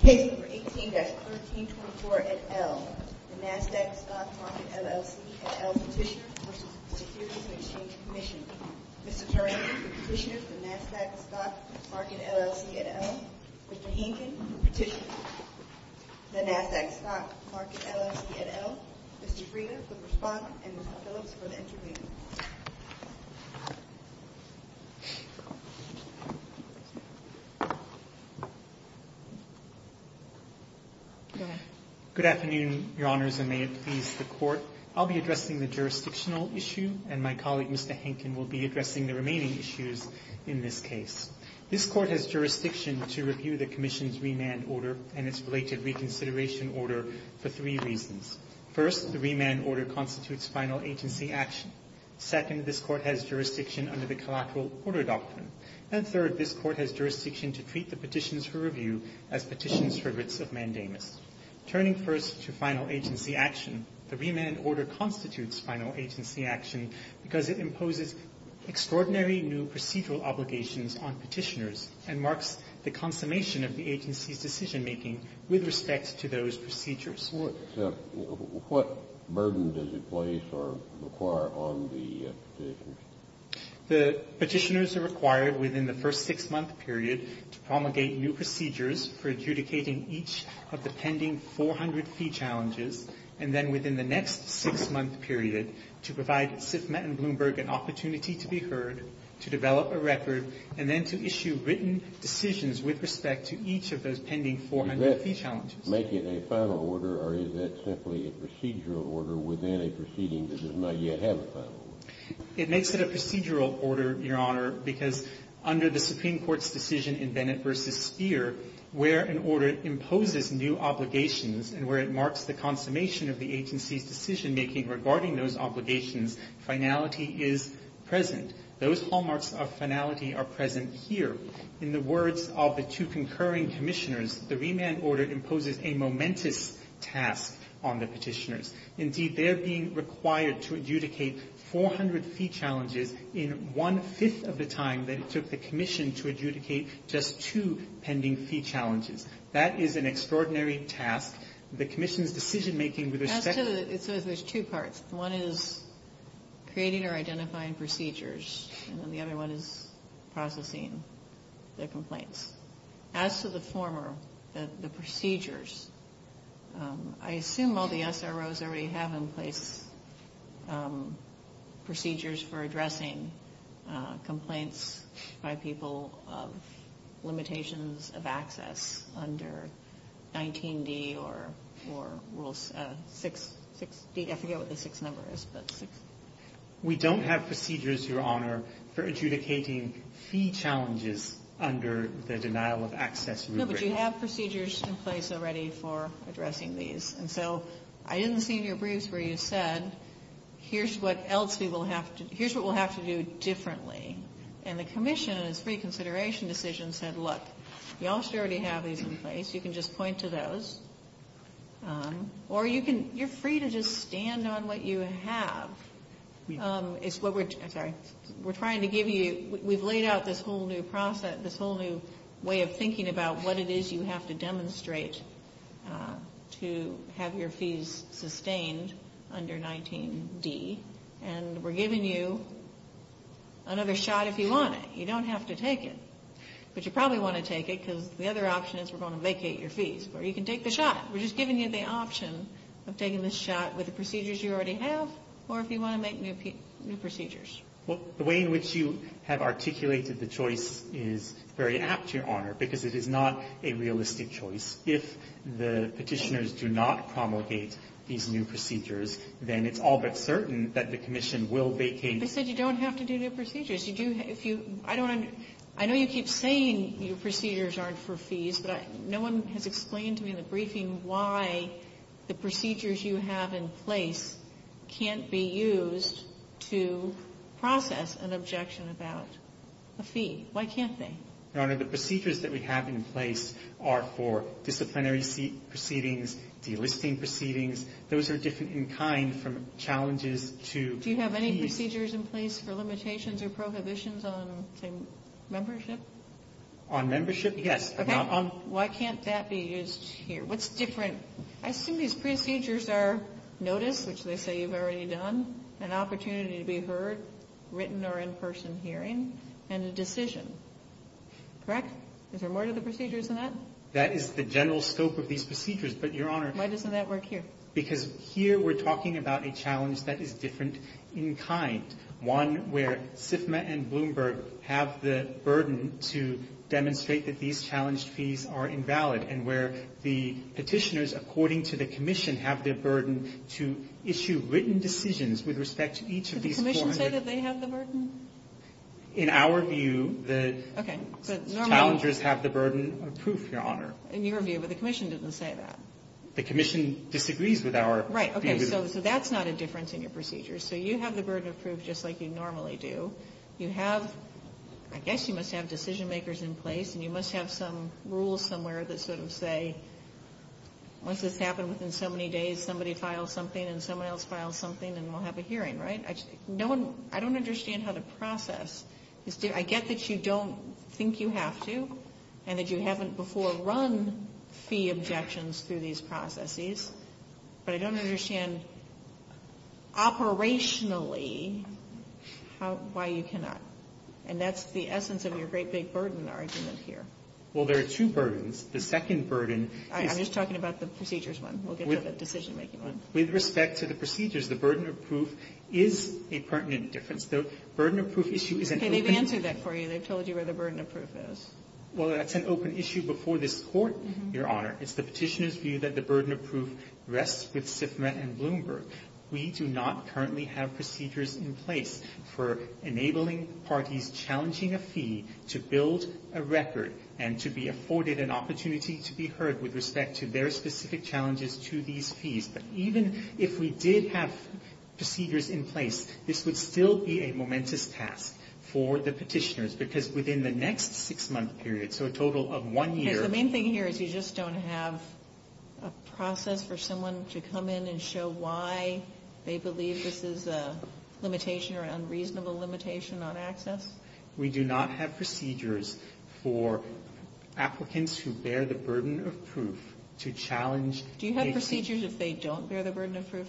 Case No. 18-1324 et al. The NASDAQ Stock Market, LLC et al. Petitioner v. Securities and Exchange Commission Mr. Turing, the Petitioner for the NASDAQ Stock Market, LLC et al. Mr. Hanken, the Petitioner for the NASDAQ Stock Market, LLC et al. Mr. Frieda, the Respondent, and Mr. Phillips for the Intervener. Good afternoon, Your Honors, and may it please the Court. I'll be addressing the jurisdictional issue, and my colleague, Mr. Hanken, will be addressing the remaining issues in this case. This Court has jurisdiction to review the Commission's remand order and its related reconsideration order for three reasons. First, the remand order constitutes final agency action. Second, this Court has jurisdiction under the collateral order doctrine. And third, this Court has jurisdiction to treat the petitions for review as petitions for writs of mandamus. Turning first to final agency action, the remand order constitutes final agency action because it imposes extraordinary new procedural obligations on petitioners and marks the consummation of the agency's decision-making with respect to those procedures. What burden does it place or require on the petitioners? The petitioners are required within the first six-month period to promulgate new procedures for adjudicating each of the pending 400 fee challenges, and then within the next six-month period to provide SIFMA and Bloomberg an opportunity to be heard, to develop a record, and then to issue written decisions with respect to each of those pending 400 fee challenges. Does that make it a final order, or is that simply a procedural order within a proceeding that does not yet have a final order? It makes it a procedural order, Your Honor, because under the Supreme Court's decision in Bennett v. Speer, where an order imposes new obligations and where it marks the consummation of the agency's decision-making regarding those obligations, finality is present. Those hallmarks of finality are present here. In the words of the two concurring commissioners, the remand order imposes a momentous task on the petitioners. Indeed, they are being required to adjudicate 400 fee challenges in one-fifth of the time that it took the commission to adjudicate just two pending fee challenges. That is an extraordinary task. The commission's decision-making with respect to the ---- As to the ---- so there's two parts. One is creating or identifying procedures, and then the other one is processing the complaints. As to the former, the procedures, I assume all the SROs already have in place procedures for addressing complaints by people of limitations of access under 19D or rules 6D. I forget what the 6th number is, but 6. We don't have procedures, Your Honor, for adjudicating fee challenges under the denial-of-access rubric. No, but you have procedures in place already for addressing these. And so I didn't see in your briefs where you said, here's what else we will have to do. Here's what we'll have to do differently. And the commission, in its reconsideration decision, said, look, you already have these in place. You can just point to those. Or you can ---- you're free to just stand on what you have. It's what we're ---- I'm sorry. We're trying to give you ---- we've laid out this whole new process, this whole new way of thinking about what it is you have to demonstrate to have your fees sustained under 19D. And we're giving you another shot if you want it. You don't have to take it. But you probably want to take it because the other option is we're going to vacate your fees. Or you can take the shot. We're just giving you the option of taking the shot with the procedures you already have or if you want to make new procedures. Well, the way in which you have articulated the choice is very apt, Your Honor, because it is not a realistic choice. If the Petitioners do not promulgate these new procedures, then it's all but certain that the commission will vacate. But you said you don't have to do new procedures. You do if you ---- I don't under ---- I know you keep saying your procedures aren't for fees, but no one has explained to me in the briefing why the procedures you have in place can't be used to process an objection about a fee. Why can't they? Your Honor, the procedures that we have in place are for disciplinary proceedings, delisting proceedings. Those are different in kind from challenges to fees. Do you have any procedures in place for limitations or prohibitions on, say, membership? On membership? Yes. Okay. Why can't that be used here? What's different? I assume these procedures are notice, which they say you've already done, an opportunity to be heard, written or in-person hearing, and a decision. Correct? Is there more to the procedures than that? That is the general scope of these procedures, but, Your Honor ---- Why doesn't that work here? Because here we're talking about a challenge that is different in kind, one where SIFMA and Bloomberg have the burden to demonstrate that these challenged fees are invalid and where the Petitioners, according to the Commission, have their burden to issue written decisions with respect to each of these 400 ---- Did the Commission say that they have the burden? In our view, the ---- Okay. But normally ---- The challengers have the burden of proof, Your Honor. In your view, but the Commission didn't say that. The Commission disagrees with our view. Right. Okay. So that's not a difference in your procedures. So you have the burden of proof just like you normally do. You have, I guess you must have decision-makers in place, and you must have some rules somewhere that sort of say, once this happens within so many days, somebody files something, and someone else files something, and we'll have a hearing. Right? No one, I don't understand how to process. I get that you don't think you have to, and that you haven't before run fee objections through these processes. But I don't understand operationally how ---- why you cannot. And that's the essence of your great big burden argument here. Well, there are two burdens. The second burden is ---- I'm just talking about the procedures one. We'll get to the decision-making one. With respect to the procedures, the burden of proof is a pertinent difference. The burden of proof issue is an open ---- Okay. They've answered that for you. They've told you where the burden of proof is. Well, that's an open issue before this Court, Your Honor. It's the petitioner's view that the burden of proof rests with SIFMA and Bloomberg. We do not currently have procedures in place for enabling parties challenging a fee to build a record and to be afforded an opportunity to be heard with respect to their specific challenges to these fees. But even if we did have procedures in place, this would still be a momentous task for the petitioners because within the next six-month period, so a total of one year ---- So the main thing here is you just don't have a process for someone to come in and show why they believe this is a limitation or an unreasonable limitation on access? We do not have procedures for applicants who bear the burden of proof to challenge ---- Do you have procedures if they don't bear the burden of proof?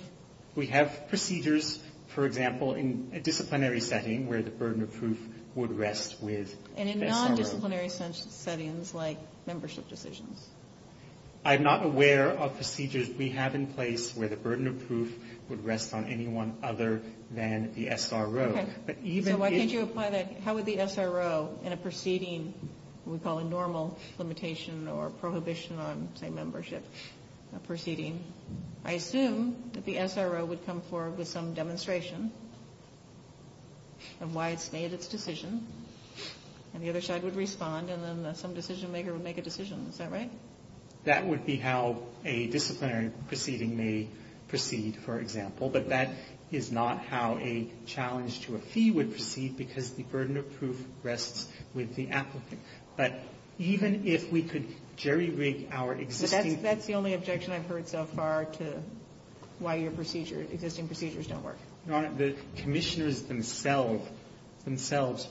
We have procedures, for example, in a disciplinary setting where the burden of proof would rest with ---- And in non-disciplinary settings like membership decisions? I'm not aware of procedures we have in place where the burden of proof would rest on anyone other than the SRO. But even if ---- So why can't you apply that? How would the SRO in a proceeding we call a normal limitation or prohibition on, say, membership proceeding, I assume that the SRO would come forward with some demonstration of why it's made its decision, and the other side would respond, and then some decisionmaker would make a decision. Is that right? That would be how a disciplinary proceeding may proceed, for example. But that is not how a challenge to a fee would proceed because the burden of proof rests with the applicant. But even if we could jerry-rig our existing ---- That's the only objection I've heard so far to why your existing procedures don't work. Your Honor, the Commissioners themselves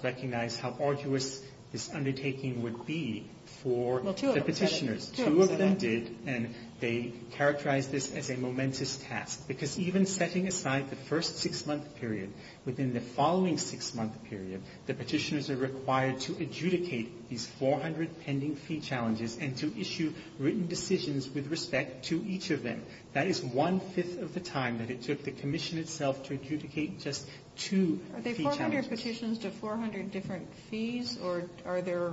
recognize how arduous this undertaking would be for the Petitioners. Well, two of them said it. Two of them did, and they characterized this as a momentous task. Because even setting aside the first six-month period, within the following six-month period, the Petitioners are required to adjudicate these 400 pending fee challenges and to issue written decisions with respect to each of them. That is one-fifth of the time that it took the Commission itself to adjudicate just two fee challenges. Are they 400 petitions to 400 different fees, or are there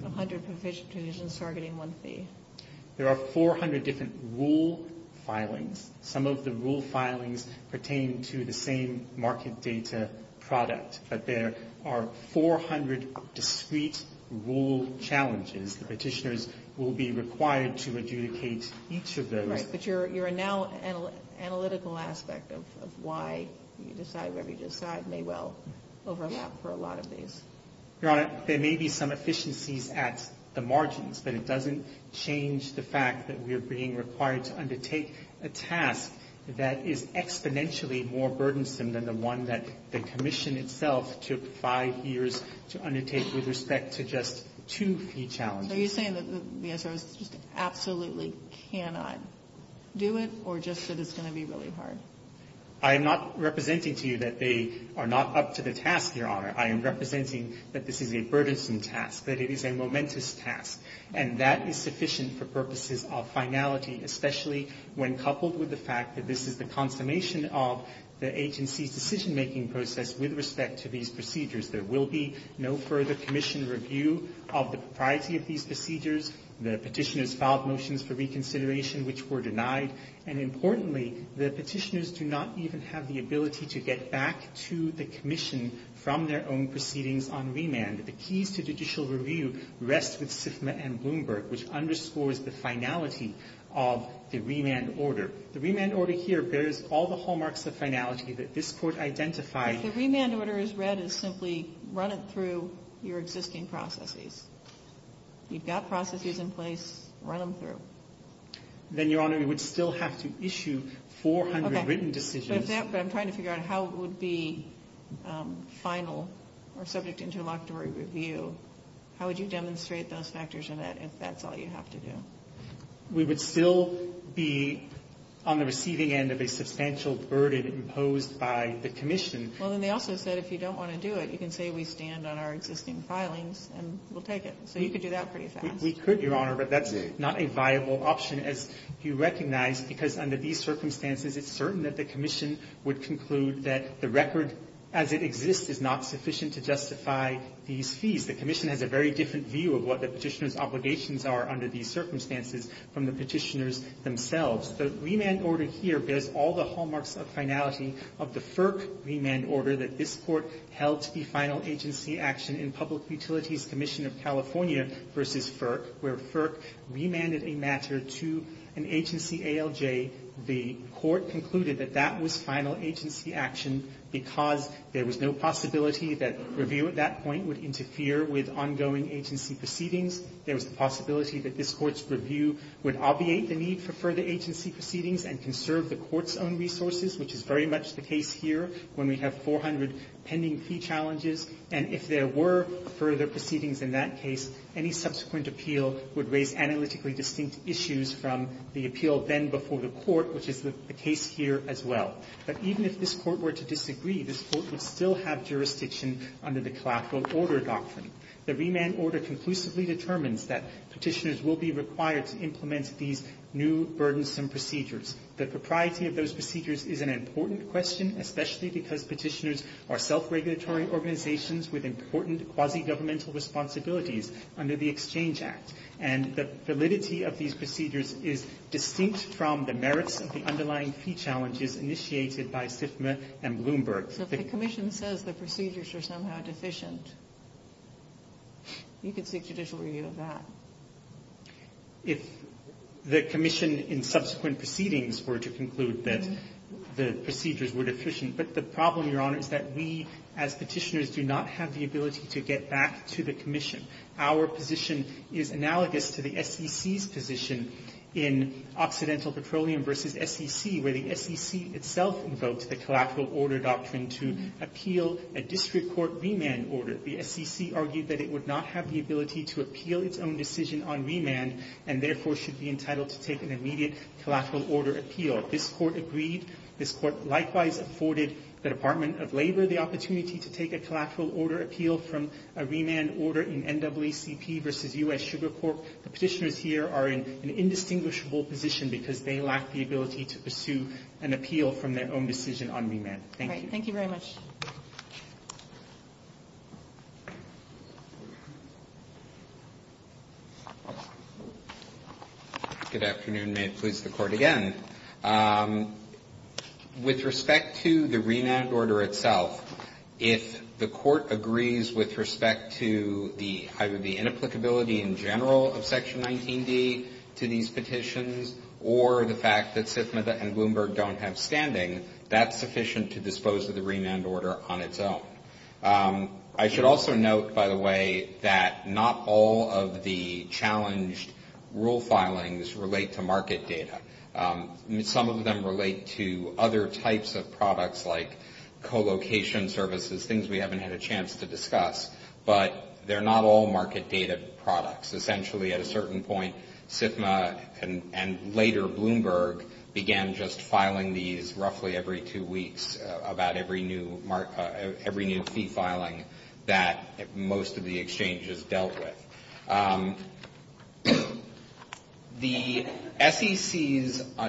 100 petitions targeting one fee? There are 400 different rule filings. Some of the rule filings pertain to the same market data product, but there are 400 discrete rule challenges. The Petitioners will be required to adjudicate each of those. But your now analytical aspect of why you decide whatever you decide may well overlap for a lot of these. Your Honor, there may be some efficiencies at the margins, but it doesn't change the fact that we are being required to undertake a task that is exponentially more burdensome than the one that the Commission itself took five years to undertake with respect to just two fee challenges. Are you saying that the SROs just absolutely cannot do it, or just that it's going to be really hard? I am not representing to you that they are not up to the task, Your Honor. I am representing that this is a burdensome task, that it is a momentous task, and that is sufficient for purposes of finality, especially when coupled with the fact that this is the consummation of the agency's decision-making process with respect to these procedures. There will be no further Commission review of the propriety of these procedures. The Petitioners filed motions for reconsideration, which were denied. And importantly, the Petitioners do not even have the ability to get back to the Commission from their own proceedings on remand. The keys to judicial review rest with SIFMA and Bloomberg, which underscores the finality of the remand order. The remand order here bears all the hallmarks of finality that this Court identified. If the remand order is read as simply run it through your existing processes, you've got processes in place, run them through. Then, Your Honor, we would still have to issue 400 written decisions. But I'm trying to figure out how it would be final or subject to interlocutory review. How would you demonstrate those factors in that if that's all you have to do? We would still be on the receiving end of a substantial burden imposed by the Commission Well, and they also said if you don't want to do it, you can say we stand on our existing filings and we'll take it. So you could do that pretty fast. We could, Your Honor, but that's not a viable option, as you recognize, because under these circumstances it's certain that the Commission would conclude that the record as it exists is not sufficient to justify these fees. The Commission has a very different view of what the Petitioners' obligations are under these circumstances from the Petitioners themselves. The remand order here bears all the hallmarks of finality of the FERC remand order that this Court held to be final agency action in Public Utilities Commission of California v. FERC, where FERC remanded a matter to an agency, ALJ. The Court concluded that that was final agency action because there was no possibility that review at that point would interfere with ongoing agency proceedings. There was the possibility that this Court's review would obviate the need for further agency proceedings and conserve the Court's own resources, which is very much the case here when we have 400 pending fee challenges. And if there were further proceedings in that case, any subsequent appeal would raise analytically distinct issues from the appeal then before the Court, which is the case here as well. But even if this Court were to disagree, this Court would still have jurisdiction under the collateral order doctrine. The remand order conclusively determines that Petitioners will be required to implement these new burdensome procedures. The propriety of those procedures is an important question, especially because Petitioners are self-regulatory organizations with important quasi-governmental responsibilities under the Exchange Act. And the validity of these procedures is distinct from the merits of the underlying fee challenges initiated by SIFMA and Bloomberg. So if the Commission says the procedures are somehow deficient, you could seek judicial review of that. If the Commission in subsequent proceedings were to conclude that the procedures were deficient, but the problem, Your Honor, is that we as Petitioners do not have the ability to get back to the Commission. Our position is analogous to the SEC's position in Occidental Petroleum v. SEC, where the SEC itself invoked the collateral order doctrine to appeal a district court remand order. The SEC argued that it would not have the ability to appeal its own decision on remand and therefore should be entitled to take an immediate collateral order appeal. This Court agreed. This Court likewise afforded the Department of Labor the opportunity to take a collateral order appeal from a remand order in NAACP v. U.S. Sugar Corp. The Petitioners here are in an indistinguishable position because they lack the ability to pursue an appeal from their own decision on remand. Thank you. All right. Thank you very much. Good afternoon. May it please the Court again. With respect to the remand order itself, if the Court agrees with respect to the, the inapplicability in general of Section 19D to these petitions or the fact that SIFMA and Bloomberg don't have standing, that's sufficient to dispose of the remand order on its own. I should also note, by the way, that not all of the challenged rule filings relate to market data. Some of them relate to other types of products like colocation services, things we haven't had a chance to discuss, but they're not all market data products. Essentially, at a certain point, SIFMA and later Bloomberg began just filing these roughly every two weeks about every new fee filing that most of the exchanges dealt with. The SECs,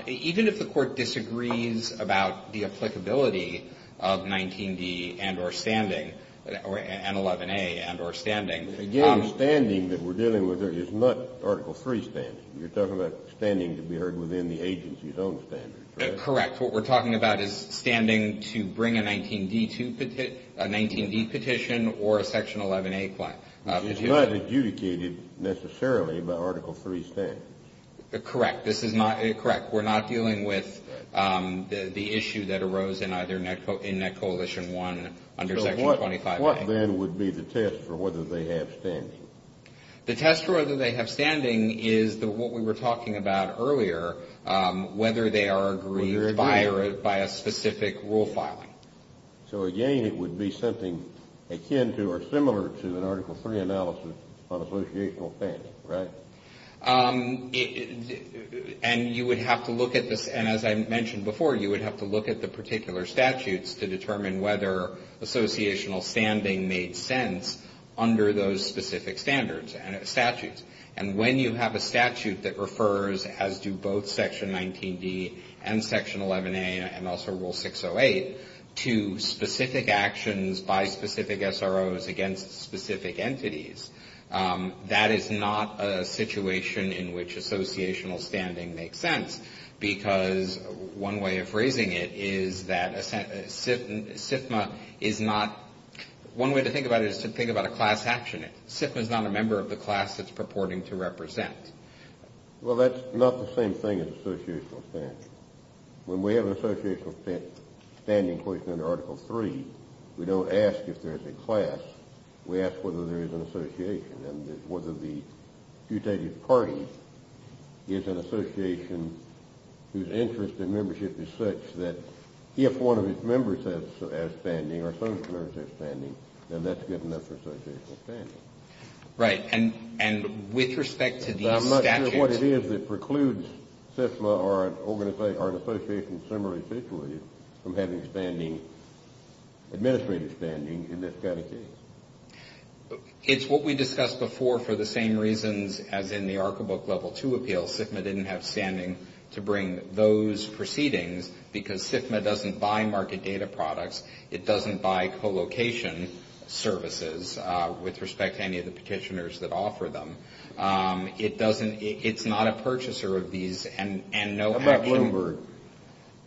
even if the Court disagrees about the applicability of 19D and or standing, Again, standing that we're dealing with is not Article 3 standing. You're talking about standing to be heard within the agency's own standards, correct? Correct. What we're talking about is standing to bring a 19D petition or a Section 11A petition. Which is not adjudicated necessarily by Article 3 standing. Correct. This is not, correct. We're not dealing with the issue that arose in either Net Coalition 1 under Section 25A. What then would be the test for whether they have standing? The test for whether they have standing is what we were talking about earlier, whether they are agreed by a specific rule filing. Again, it would be something akin to or similar to an Article 3 analysis on associational standing, right? And you would have to look at this, and as I mentioned before, you would have to look at the particular statutes to determine whether associational standing made sense under those specific standards and statutes. And when you have a statute that refers, as do both Section 19D and Section 11A and also Rule 608, to specific actions by specific SROs against specific entities, that is not a situation in which associational standing makes sense. Because one way of phrasing it is that SIFMA is not one way to think about it is to think about a class action. SIFMA is not a member of the class it's purporting to represent. Well, that's not the same thing as associational standing. When we have an associational standing question under Article 3, we don't ask if there's a class. We ask whether there is an association. And whether the adjudicated party is an association whose interest in membership is such that if one of its members has standing or some members have standing, then that's good enough for associational standing. Right. And with respect to these statutes — I'm not sure what it is that precludes SIFMA or an association similarly, from having administrative standing in this kind of case. It's what we discussed before for the same reasons as in the ARCA Book Level 2 appeal. SIFMA didn't have standing to bring those proceedings because SIFMA doesn't buy market data products. It doesn't buy co-location services with respect to any of the petitioners that offer them. It's not a purchaser of these and no action — How about Bloomberg?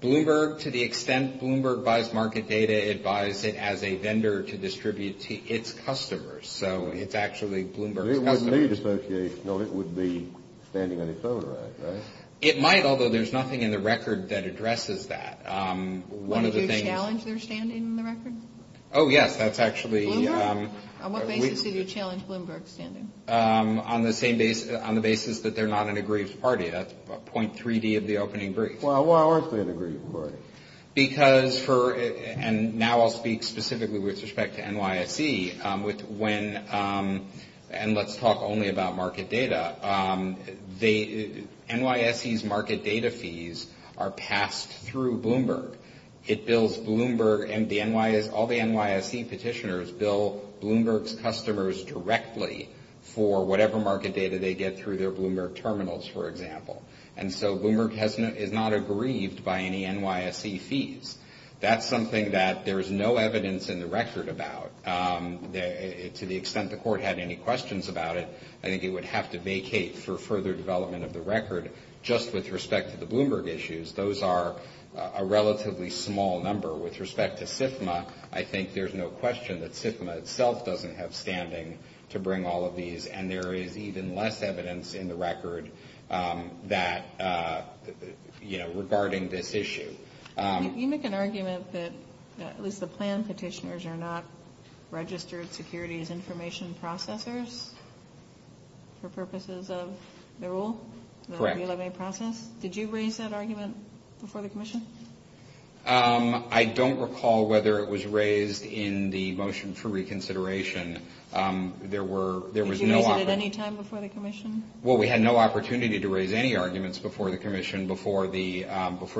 Bloomberg, to the extent Bloomberg buys market data, it buys it as a vendor to distribute to its customers. So it's actually Bloomberg's customers. It wouldn't need associational. It would be standing on its own, right? Right. It might, although there's nothing in the record that addresses that. One of the things — Would you challenge their standing in the record? Oh, yes. That's actually — Bloomberg? On what basis did you challenge Bloomberg's standing? On the basis that they're not an aggrieved party. That's point 3D of the opening brief. Why aren't they an aggrieved party? Because for — and now I'll speak specifically with respect to NYSE. When — and let's talk only about market data. They — NYSE's market data fees are passed through Bloomberg. It bills Bloomberg and the — all the NYSE petitioners bill Bloomberg's customers directly for whatever market data they get through their Bloomberg terminals, for example. And so Bloomberg is not aggrieved by any NYSE fees. That's something that there is no evidence in the record about. To the extent the court had any questions about it, I think it would have to vacate for further development of the record. Just with respect to the Bloomberg issues, those are a relatively small number. With respect to SIFMA, I think there's no question that SIFMA itself doesn't have standing to bring all of these. And there is even less evidence in the record that — you know, regarding this issue. You make an argument that at least the plan petitioners are not registered securities information processors for purposes of the rule? Correct. The 11A process. Did you raise that argument before the commission? I don't recall whether it was raised in the motion for reconsideration. There was no — Did you raise it at any time before the commission? Well, we had no opportunity to raise any arguments before the commission before the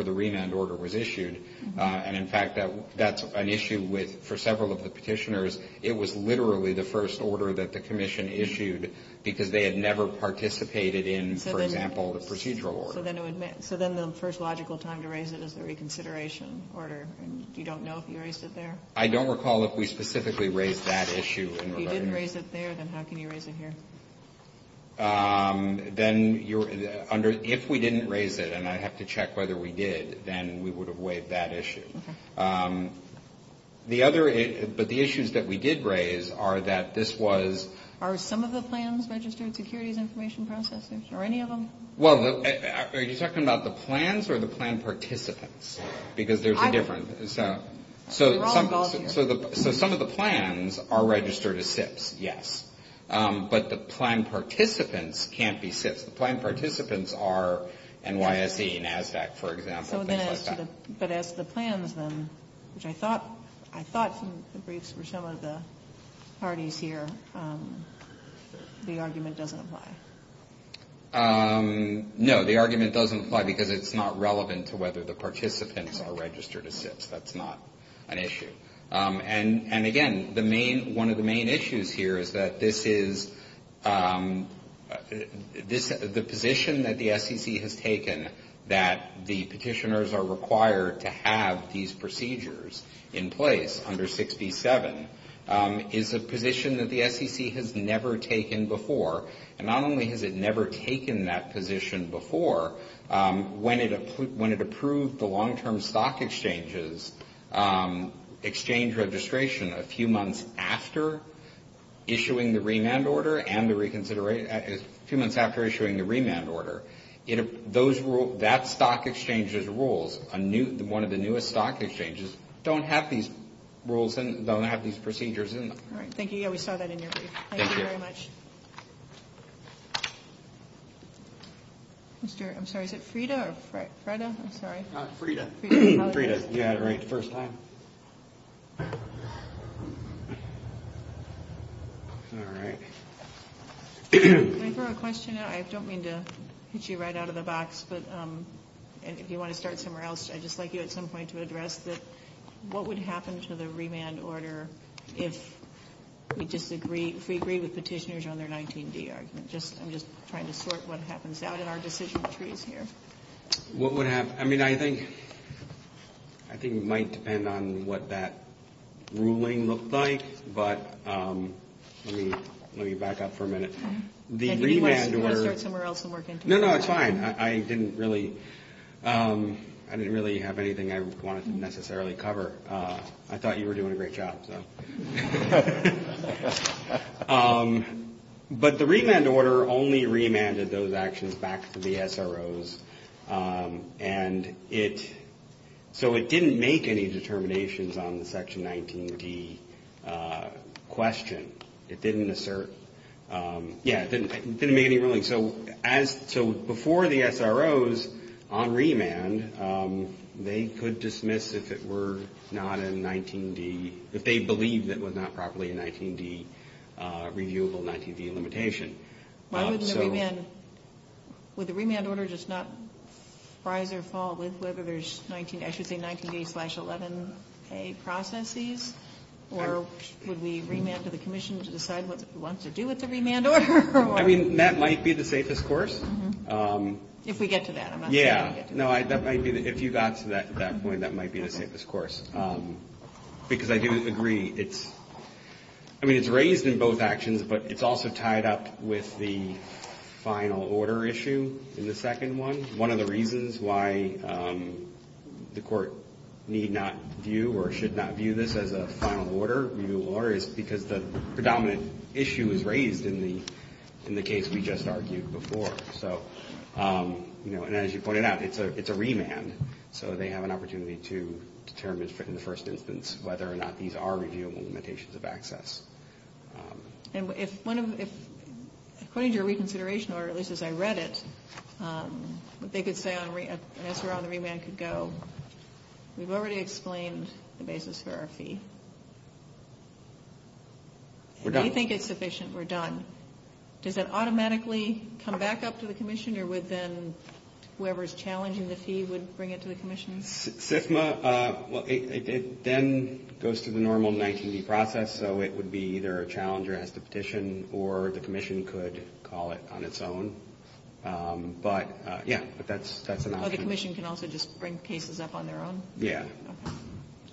remand order was issued. And, in fact, that's an issue with — for several of the petitioners, it was literally the first order that the commission issued because they had never participated in, for example, the procedural order. So then the first logical time to raise it is the reconsideration order. And you don't know if you raised it there? I don't recall if we specifically raised that issue. If you didn't raise it there, then how can you raise it here? Then you're — if we didn't raise it, and I'd have to check whether we did, then we would have waived that issue. Okay. The other — but the issues that we did raise are that this was — Are some of the plans registered securities information processors, or any of them? Well, are you talking about the plans or the plan participants? Because there's a difference. We're all involved here. So some of the plans are registered as SIPs, yes. But the plan participants can't be SIPs. The plan participants are NYSE, NASDAQ, for example, things like that. So then as to the — but as to the plans, then, which I thought some of the briefs were some of the parties here, the argument doesn't apply? No, the argument doesn't apply because it's not relevant to whether the participants are registered as SIPs. That's not an issue. And, again, the main — one of the main issues here is that this is — the position that the SEC has taken, that the petitioners are required to have these procedures in place under 6B-7, is a position that the SEC has never taken before. And not only has it never taken that position before, when it approved the long-term stock exchange's exchange registration a few months after issuing the remand order and the reconsideration — a few months after issuing the remand order, that stock exchange's rules, one of the newest stock exchanges, don't have these rules and don't have these procedures in them. All right. Thank you. Yeah, we saw that in your brief. Thank you very much. Mr. — I'm sorry, is it Frida or Freda? I'm sorry. Frida. Frida. Yeah, right. First time. All right. Can I throw a question out? I don't mean to hit you right out of the box, but if you want to start somewhere else, I'd just like you at some point to address that — what would happen to the remand order if we disagree — if we agree with petitioners on their 19D argument? Just — I'm just trying to sort what happens out in our decision trees here. What would happen — I mean, I think — I think it might depend on what that ruling looked like, but let me back up for a minute. The remand order — You want to start somewhere else and work into it? No, no, it's fine. I didn't really — I didn't really have anything I wanted to necessarily cover. I thought you were doing a great job. But the remand order only remanded those actions back to the SROs. And it — so it didn't make any determinations on the section 19D question. It didn't assert — yeah, it didn't make any ruling. So as — so before the SROs, on remand, they could dismiss if it were not a 19D — if they believed it was not properly a 19D — reviewable 19D limitation. Why wouldn't a remand — would the remand order just not rise or fall with whether there's 19 — I should say 19D slash 11A processes? Or would we remand to the commission to decide what it wants to do with the remand order? I mean, that might be the safest course. If we get to that. Yeah. No, that might be — if you got to that point, that might be the safest course. Because I do agree, it's — I mean, it's raised in both actions, but it's also tied up with the final order issue in the second one. One of the reasons why the Court need not view or should not view this as a final order, reviewable order, is because the predominant issue is raised in the case we just argued before. So, you know, and as you pointed out, it's a remand. So they have an opportunity to determine in the first instance whether or not these are reviewable limitations of access. And if one of — according to your reconsideration order, at least as I read it, what they could say on — as we're on the remand could go, we've already explained the basis for our fee. We're done. We think it's sufficient. We're done. Does it automatically come back up to the commission? Or would then whoever's challenging the fee would bring it to the commission? CIFMA, well, it then goes to the normal 19D process. So it would be either a challenger has to petition or the commission could call it on its own. But, yeah, that's an option. Oh, the commission can also just bring cases up on their own? Yeah.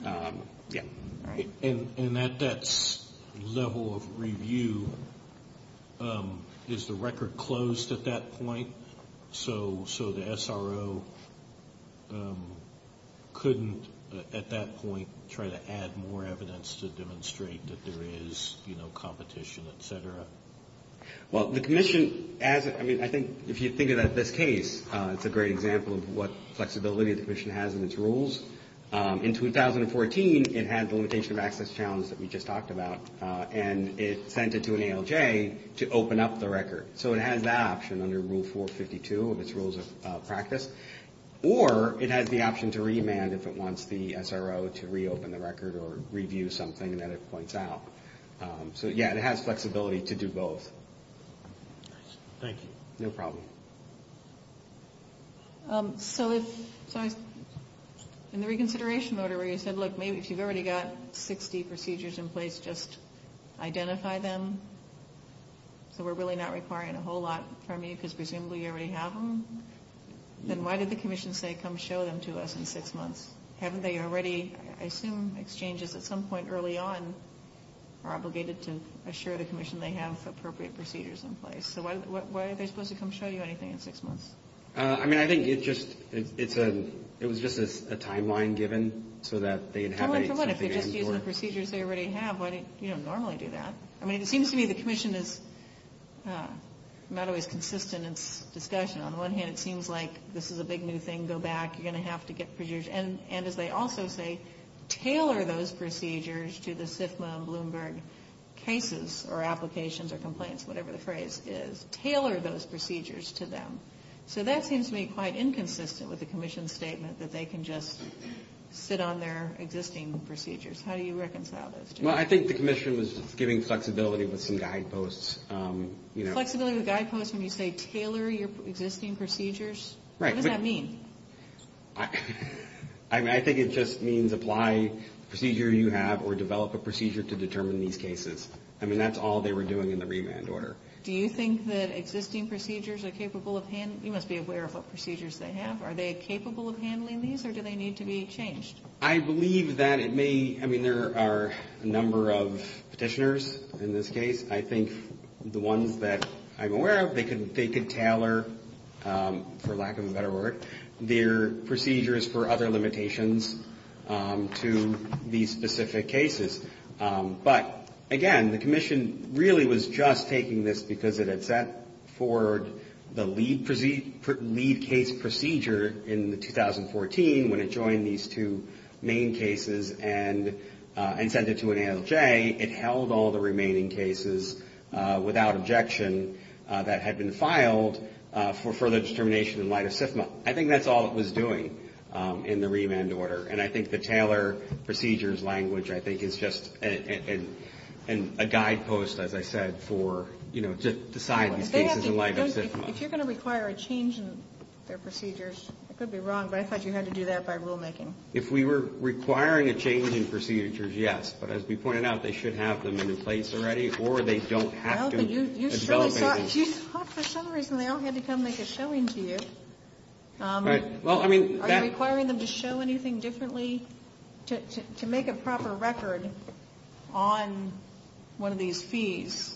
Okay. Yeah. All right. And at that level of review, is the record closed at that point? So the SRO couldn't, at that point, try to add more evidence to demonstrate that there is, you know, competition, et cetera? Well, the commission, as — I mean, I think if you think about this case, it's a great example of what flexibility the commission has in its rules. In 2014, it had the limitation of access challenge that we just talked about, and it sent it to an ALJ to open up the record. So it has that option under Rule 452 of its rules of practice. Or it has the option to remand if it wants the SRO to reopen the record or review something that it points out. So, yeah, it has flexibility to do both. Thank you. No problem. So in the reconsideration order where you said, look, maybe if you've already got 60 procedures in place, just identify them? So we're really not requiring a whole lot from you because presumably you already have them? Then why did the commission say come show them to us in six months? Haven't they already — I assume exchanges at some point early on are obligated to assure the commission they have appropriate procedures in place. So why are they supposed to come show you anything in six months? I mean, I think it just — it was just a timeline given so that they'd have a — Timeline for what? If they're just using the procedures they already have, why don't you normally do that? I mean, it seems to me the commission is not always consistent in its discussion. On the one hand, it seems like this is a big new thing. Go back. You're going to have to get procedures. And as they also say, tailor those procedures to the CFMA and Bloomberg cases or applications or complaints, whatever the phrase is. Tailor those procedures to them. So that seems to me quite inconsistent with the commission's statement that they can just sit on their existing procedures. How do you reconcile those two? Well, I think the commission was giving flexibility with some guideposts. Flexibility with guideposts when you say tailor your existing procedures? Right. What does that mean? I mean, I think it just means apply the procedure you have or develop a procedure to determine these cases. I mean, that's all they were doing in the remand order. Do you think that existing procedures are capable of — you must be aware of what procedures they have. Are they capable of handling these or do they need to be changed? I believe that it may — I mean, there are a number of petitioners in this case. I think the ones that I'm aware of, they could tailor, for lack of a better word, their procedures for other limitations to these specific cases. But, again, the commission really was just taking this because it had set forward the lead case procedure in 2014 when it joined these two main cases and sent it to an ALJ. It held all the remaining cases without objection that had been filed for further determination in light of CFMA. I think that's all it was doing in the remand order. And I think the tailor procedures language, I think, is just a guidepost, as I said, for, you know, to decide these cases in light of CFMA. If you're going to require a change in their procedures, I could be wrong, but I thought you had to do that by rulemaking. If we were requiring a change in procedures, yes. But as we pointed out, they should have them in place already or they don't have to develop any. No, but you thought for some reason they all had to come make a showing to you. Are you requiring them to show anything differently? To make a proper record on one of these fees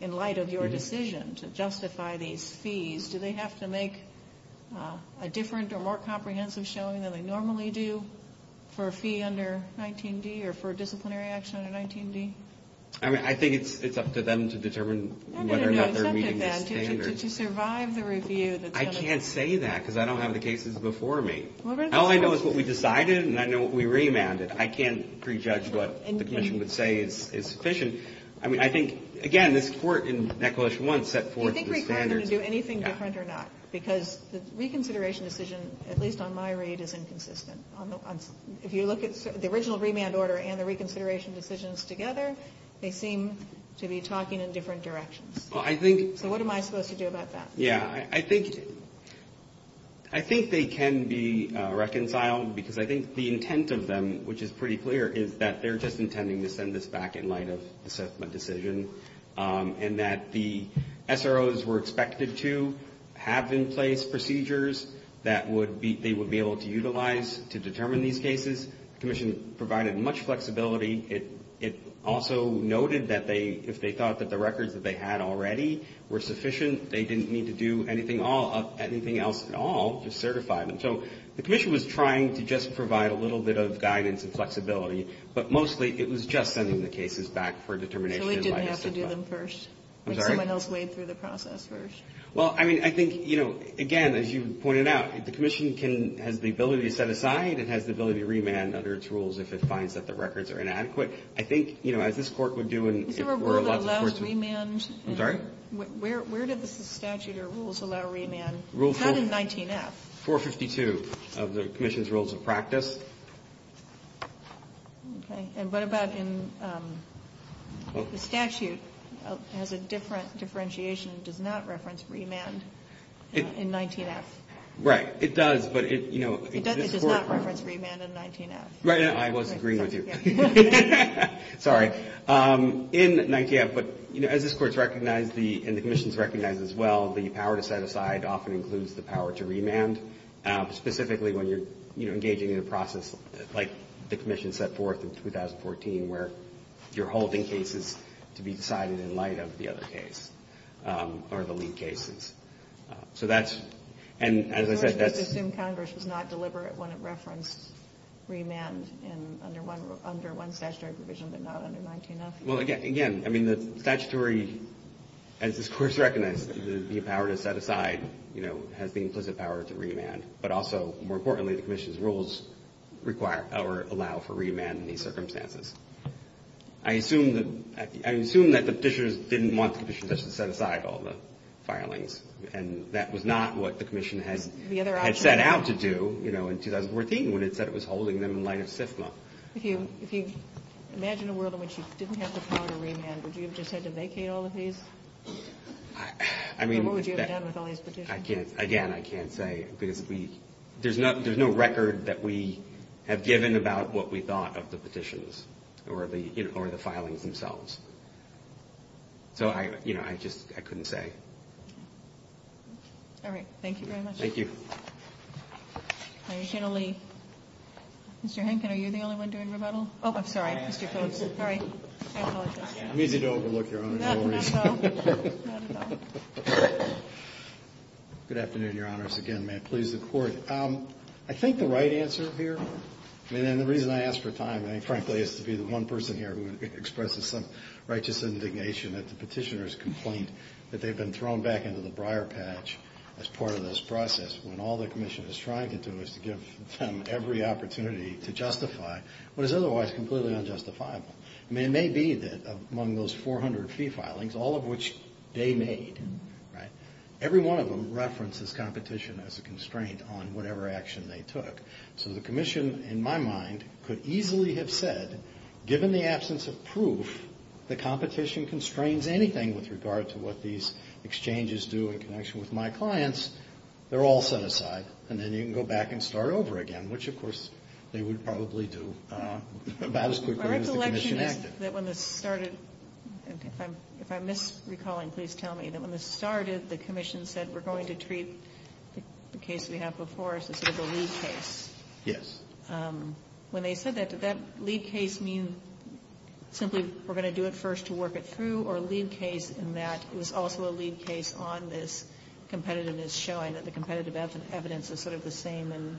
in light of your decision to justify these fees, do they have to make a different or more comprehensive showing than they normally do for a fee under 19D or for disciplinary action under 19D? I mean, I think it's up to them to determine whether or not they're meeting the standards. No, no, no, it's up to them to survive the review. I can't say that because I don't have the cases before me. All I know is what we decided and I know what we remanded. I can't prejudge what the commission would say is sufficient. I mean, I think, again, this court in NEC 1 set forth the standards. Do you think we require them to do anything different or not? Because the reconsideration decision, at least on my read, is inconsistent. If you look at the original remand order and the reconsideration decisions together, they seem to be talking in different directions. So what am I supposed to do about that? Yeah, I think they can be reconciled because I think the intent of them, which is pretty clear, is that they're just intending to send this back in light of the settlement decision and that the SROs were expected to have in place procedures that they would be able to utilize to determine these cases. The commission provided much flexibility. It also noted that if they thought that the records that they had already were sufficient, they didn't need to do anything else at all to certify them. So the commission was trying to just provide a little bit of guidance and flexibility, but mostly it was just sending the cases back for determination in light of the settlement. So it didn't have to do them first? I'm sorry? Like someone else weighed through the process first? Well, I mean, I think, you know, again, as you pointed out, the commission has the ability to set aside and has the ability to remand under its rules if it finds that the records are inadequate. I think, you know, as this Court would do and if there were lots of courts... Is there a rule that allows remand? I'm sorry? Where did the statute or rules allow remand? It's not in 19F. Rule 452 of the commission's rules of practice. Okay. And what about in the statute has a different differentiation and does not reference remand in 19F? Right. It does, but, you know... It does not reference remand in 19F. Right. I was agreeing with you. Sorry. In 19F, but, you know, as this Court's recognized and the commission's recognized as well, the power to set aside often includes the power to remand, specifically when you're, you know, engaging in a process like the commission set forth in 2014 where you're holding cases to be decided in light of the other case or the lead cases. So that's... And as I said, that's... But not under 19F? Well, again, I mean, the statutory, as this Court's recognized, the power to set aside, you know, has the implicit power to remand. But also, more importantly, the commission's rules require or allow for remand in these circumstances. I assume that the petitioners didn't want the commission to set aside all the filings, and that was not what the commission had set out to do, you know, in 2014 when it said it was holding them in light of SFMA. If you imagine a world in which you didn't have the power to remand, would you have just had to vacate all of these? I mean... Or what would you have done with all these petitions? I can't... Again, I can't say because we... There's no record that we have given about what we thought of the petitions or the filings themselves. So, you know, I just... I couldn't say. All right. Thank you very much. Thank you. Attorney General Lee. Mr. Henkin, are you the only one doing rebuttal? Oh, I'm sorry. Mr. Coates. Sorry. I apologize. I'm easy to overlook, Your Honor, for no reason. No, not at all. Good afternoon, Your Honors. Again, may it please the Court. I think the right answer here, and the reason I asked for time, I think, frankly, is to be the one person here who expresses some righteous indignation at the petitioner's complaint that they've been thrown back into the briar patch as part of this process when all the Commission is trying to do is to give them every opportunity to justify what is otherwise completely unjustifiable. I mean, it may be that among those 400 fee filings, all of which they made, right, every one of them references competition as a constraint on whatever action they took. So the Commission, in my mind, could easily have said, given the absence of proof that competition constrains anything with regard to what these exchanges do in connection with my clients, they're all set aside, and then you can go back and start over again, which, of course, they would probably do about as quickly as the Commission acted. My recollection is that when this started, if I'm misrecalling, please tell me, that when this started, the Commission said we're going to treat the case we have before as sort of a lead case. Yes. When they said that, did that lead case mean simply we're going to do it first to work it through, or a lead case in that it was also a lead case on this competitiveness, showing that the competitive evidence is sort of the same in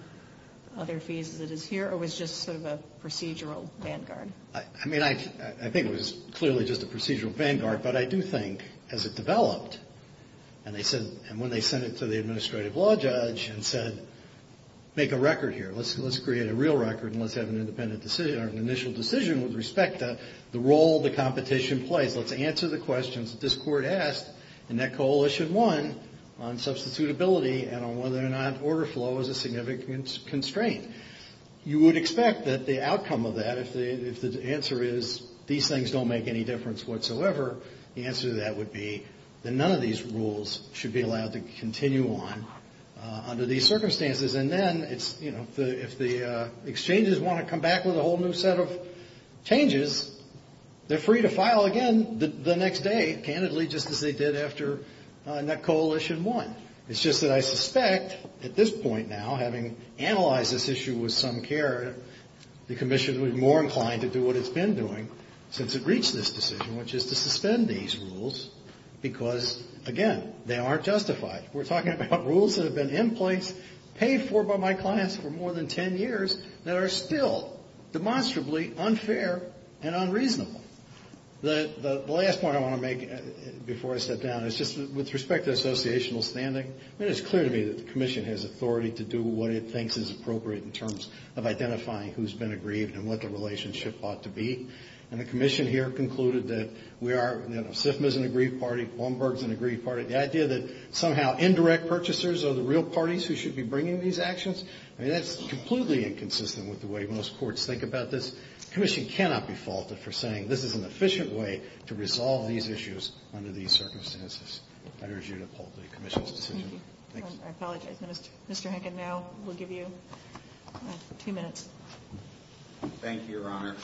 other fees as it is here, or was it just sort of a procedural vanguard? I mean, I think it was clearly just a procedural vanguard, but I do think, as it developed, and when they sent it to the administrative law judge and said, make a record here, let's create a real record and let's have an initial decision with respect to the role the competition plays, let's answer the questions that this Court asked in that Coalition I on substitutability and on whether or not order flow is a significant constraint. You would expect that the outcome of that, if the answer is these things don't make any difference whatsoever, the answer to that would be that none of these rules should be allowed to continue on under these circumstances, and then if the exchanges want to come back with a whole new set of changes, they're free to file again the next day, candidly, just as they did after Coalition I. It's just that I suspect, at this point now, having analyzed this issue with some care, the Commission would be more inclined to do what it's been doing since it reached this decision, which is to suspend these rules because, again, they aren't justified. We're talking about rules that have been in place, paid for by my clients for more than ten years, that are still demonstrably unfair and unreasonable. The last point I want to make before I step down is just with respect to associational standing, I mean, it's clear to me that the Commission has authority to do what it thinks is appropriate in terms of identifying who's been aggrieved and what the relationship ought to be, and the Commission here concluded that we are, you know, SIFMA's an aggrieved party, Bloomberg's an aggrieved party. The idea that somehow indirect purchasers are the real parties who should be bringing these actions, I mean, that's completely inconsistent with the way most courts think about this. The Commission cannot be faulted for saying this is an efficient way to resolve these issues under these circumstances. I urge you to uphold the Commission's decision. Thank you. I apologize. Mr. Hankin, now we'll give you two minutes. Thank you, Your Honor.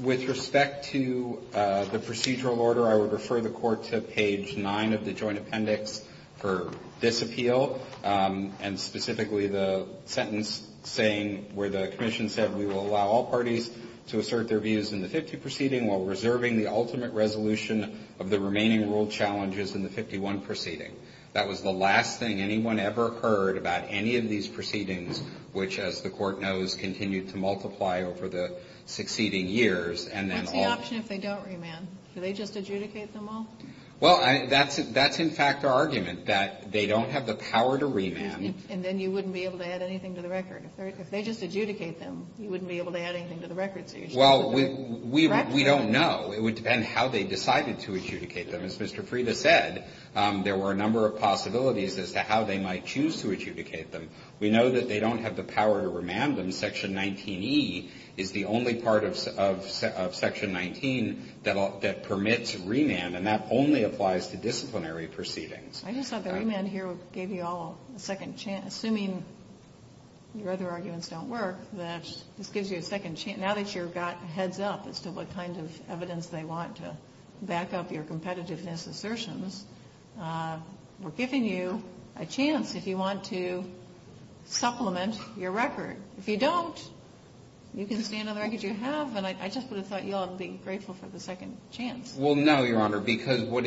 With respect to the procedural order, I would refer the Court to page 9 of the joint appendix for this appeal. And specifically the sentence saying where the Commission said we will allow all parties to assert their views in the 50 proceeding while reserving the ultimate resolution of the remaining rule challenges in the 51 proceeding. That was the last thing anyone ever heard about any of these proceedings, which, as the Court knows, continued to multiply over the succeeding years. What's the option if they don't remand? Do they just adjudicate them all? Well, that's in fact our argument, that they don't have the power to remand. And then you wouldn't be able to add anything to the record. If they just adjudicate them, you wouldn't be able to add anything to the record. Well, we don't know. It would depend how they decided to adjudicate them. As Mr. Frieda said, there were a number of possibilities as to how they might choose to adjudicate them. We know that they don't have the power to remand them. Section 19E is the only part of Section 19 that permits remand, and that only applies to disciplinary proceedings. I just thought the remand here gave you all a second chance. Assuming your other arguments don't work, this gives you a second chance. Now that you've got heads up as to what kind of evidence they want to back up your competitiveness assertions, we're giving you a chance if you want to supplement your record. If you don't, you can stand on the record you have. And I just would have thought you all would be grateful for the second chance. Well, no, Your Honor, because what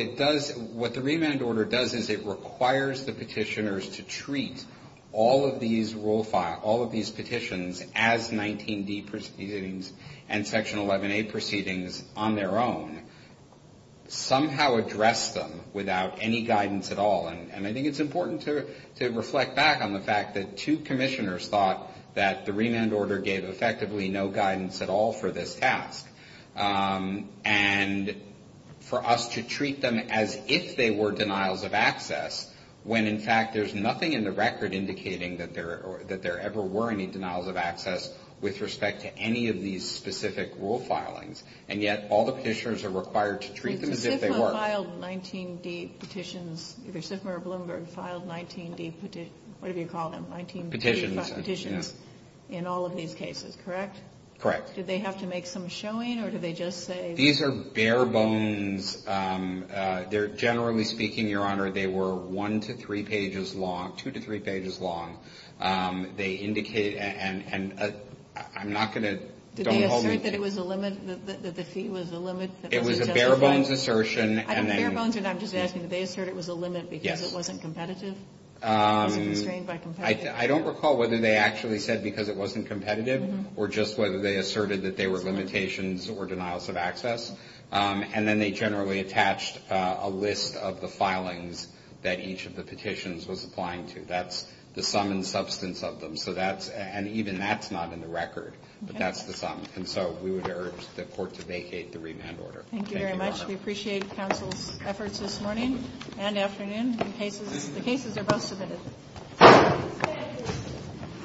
the remand order does is it requires the petitioners to treat all of these rule files, all of these petitions as 19D proceedings and Section 11A proceedings on their own, somehow address them without any guidance at all. And I think it's important to reflect back on the fact that two commissioners thought that the remand order gave effectively no guidance at all for this task. And for us to treat them as if they were denials of access when, in fact, there's nothing in the record indicating that there ever were any denials of access with respect to any of these specific rule filings, and yet all the petitioners are required to treat them as if they were. They filed 19D petitions, either Sitmer or Bloomberg filed 19D, whatever you call them, 19D petitions in all of these cases, correct? Correct. Did they have to make some showing, or did they just say? These are bare bones. Generally speaking, Your Honor, they were one to three pages long, two to three pages long. They indicated, and I'm not going to don't hold you. Did they assert that it was a limit, that the fee was a limit that wasn't justified? Bare bones assertion. Bare bones, and I'm just asking, did they assert it was a limit because it wasn't competitive? I don't recall whether they actually said because it wasn't competitive, or just whether they asserted that they were limitations or denials of access. And then they generally attached a list of the filings that each of the petitions was applying to. That's the sum and substance of them. And even that's not in the record, but that's the sum. And so we would urge the Court to vacate the remand order. Thank you very much. We appreciate counsel's efforts this morning and afternoon. The cases are both submitted.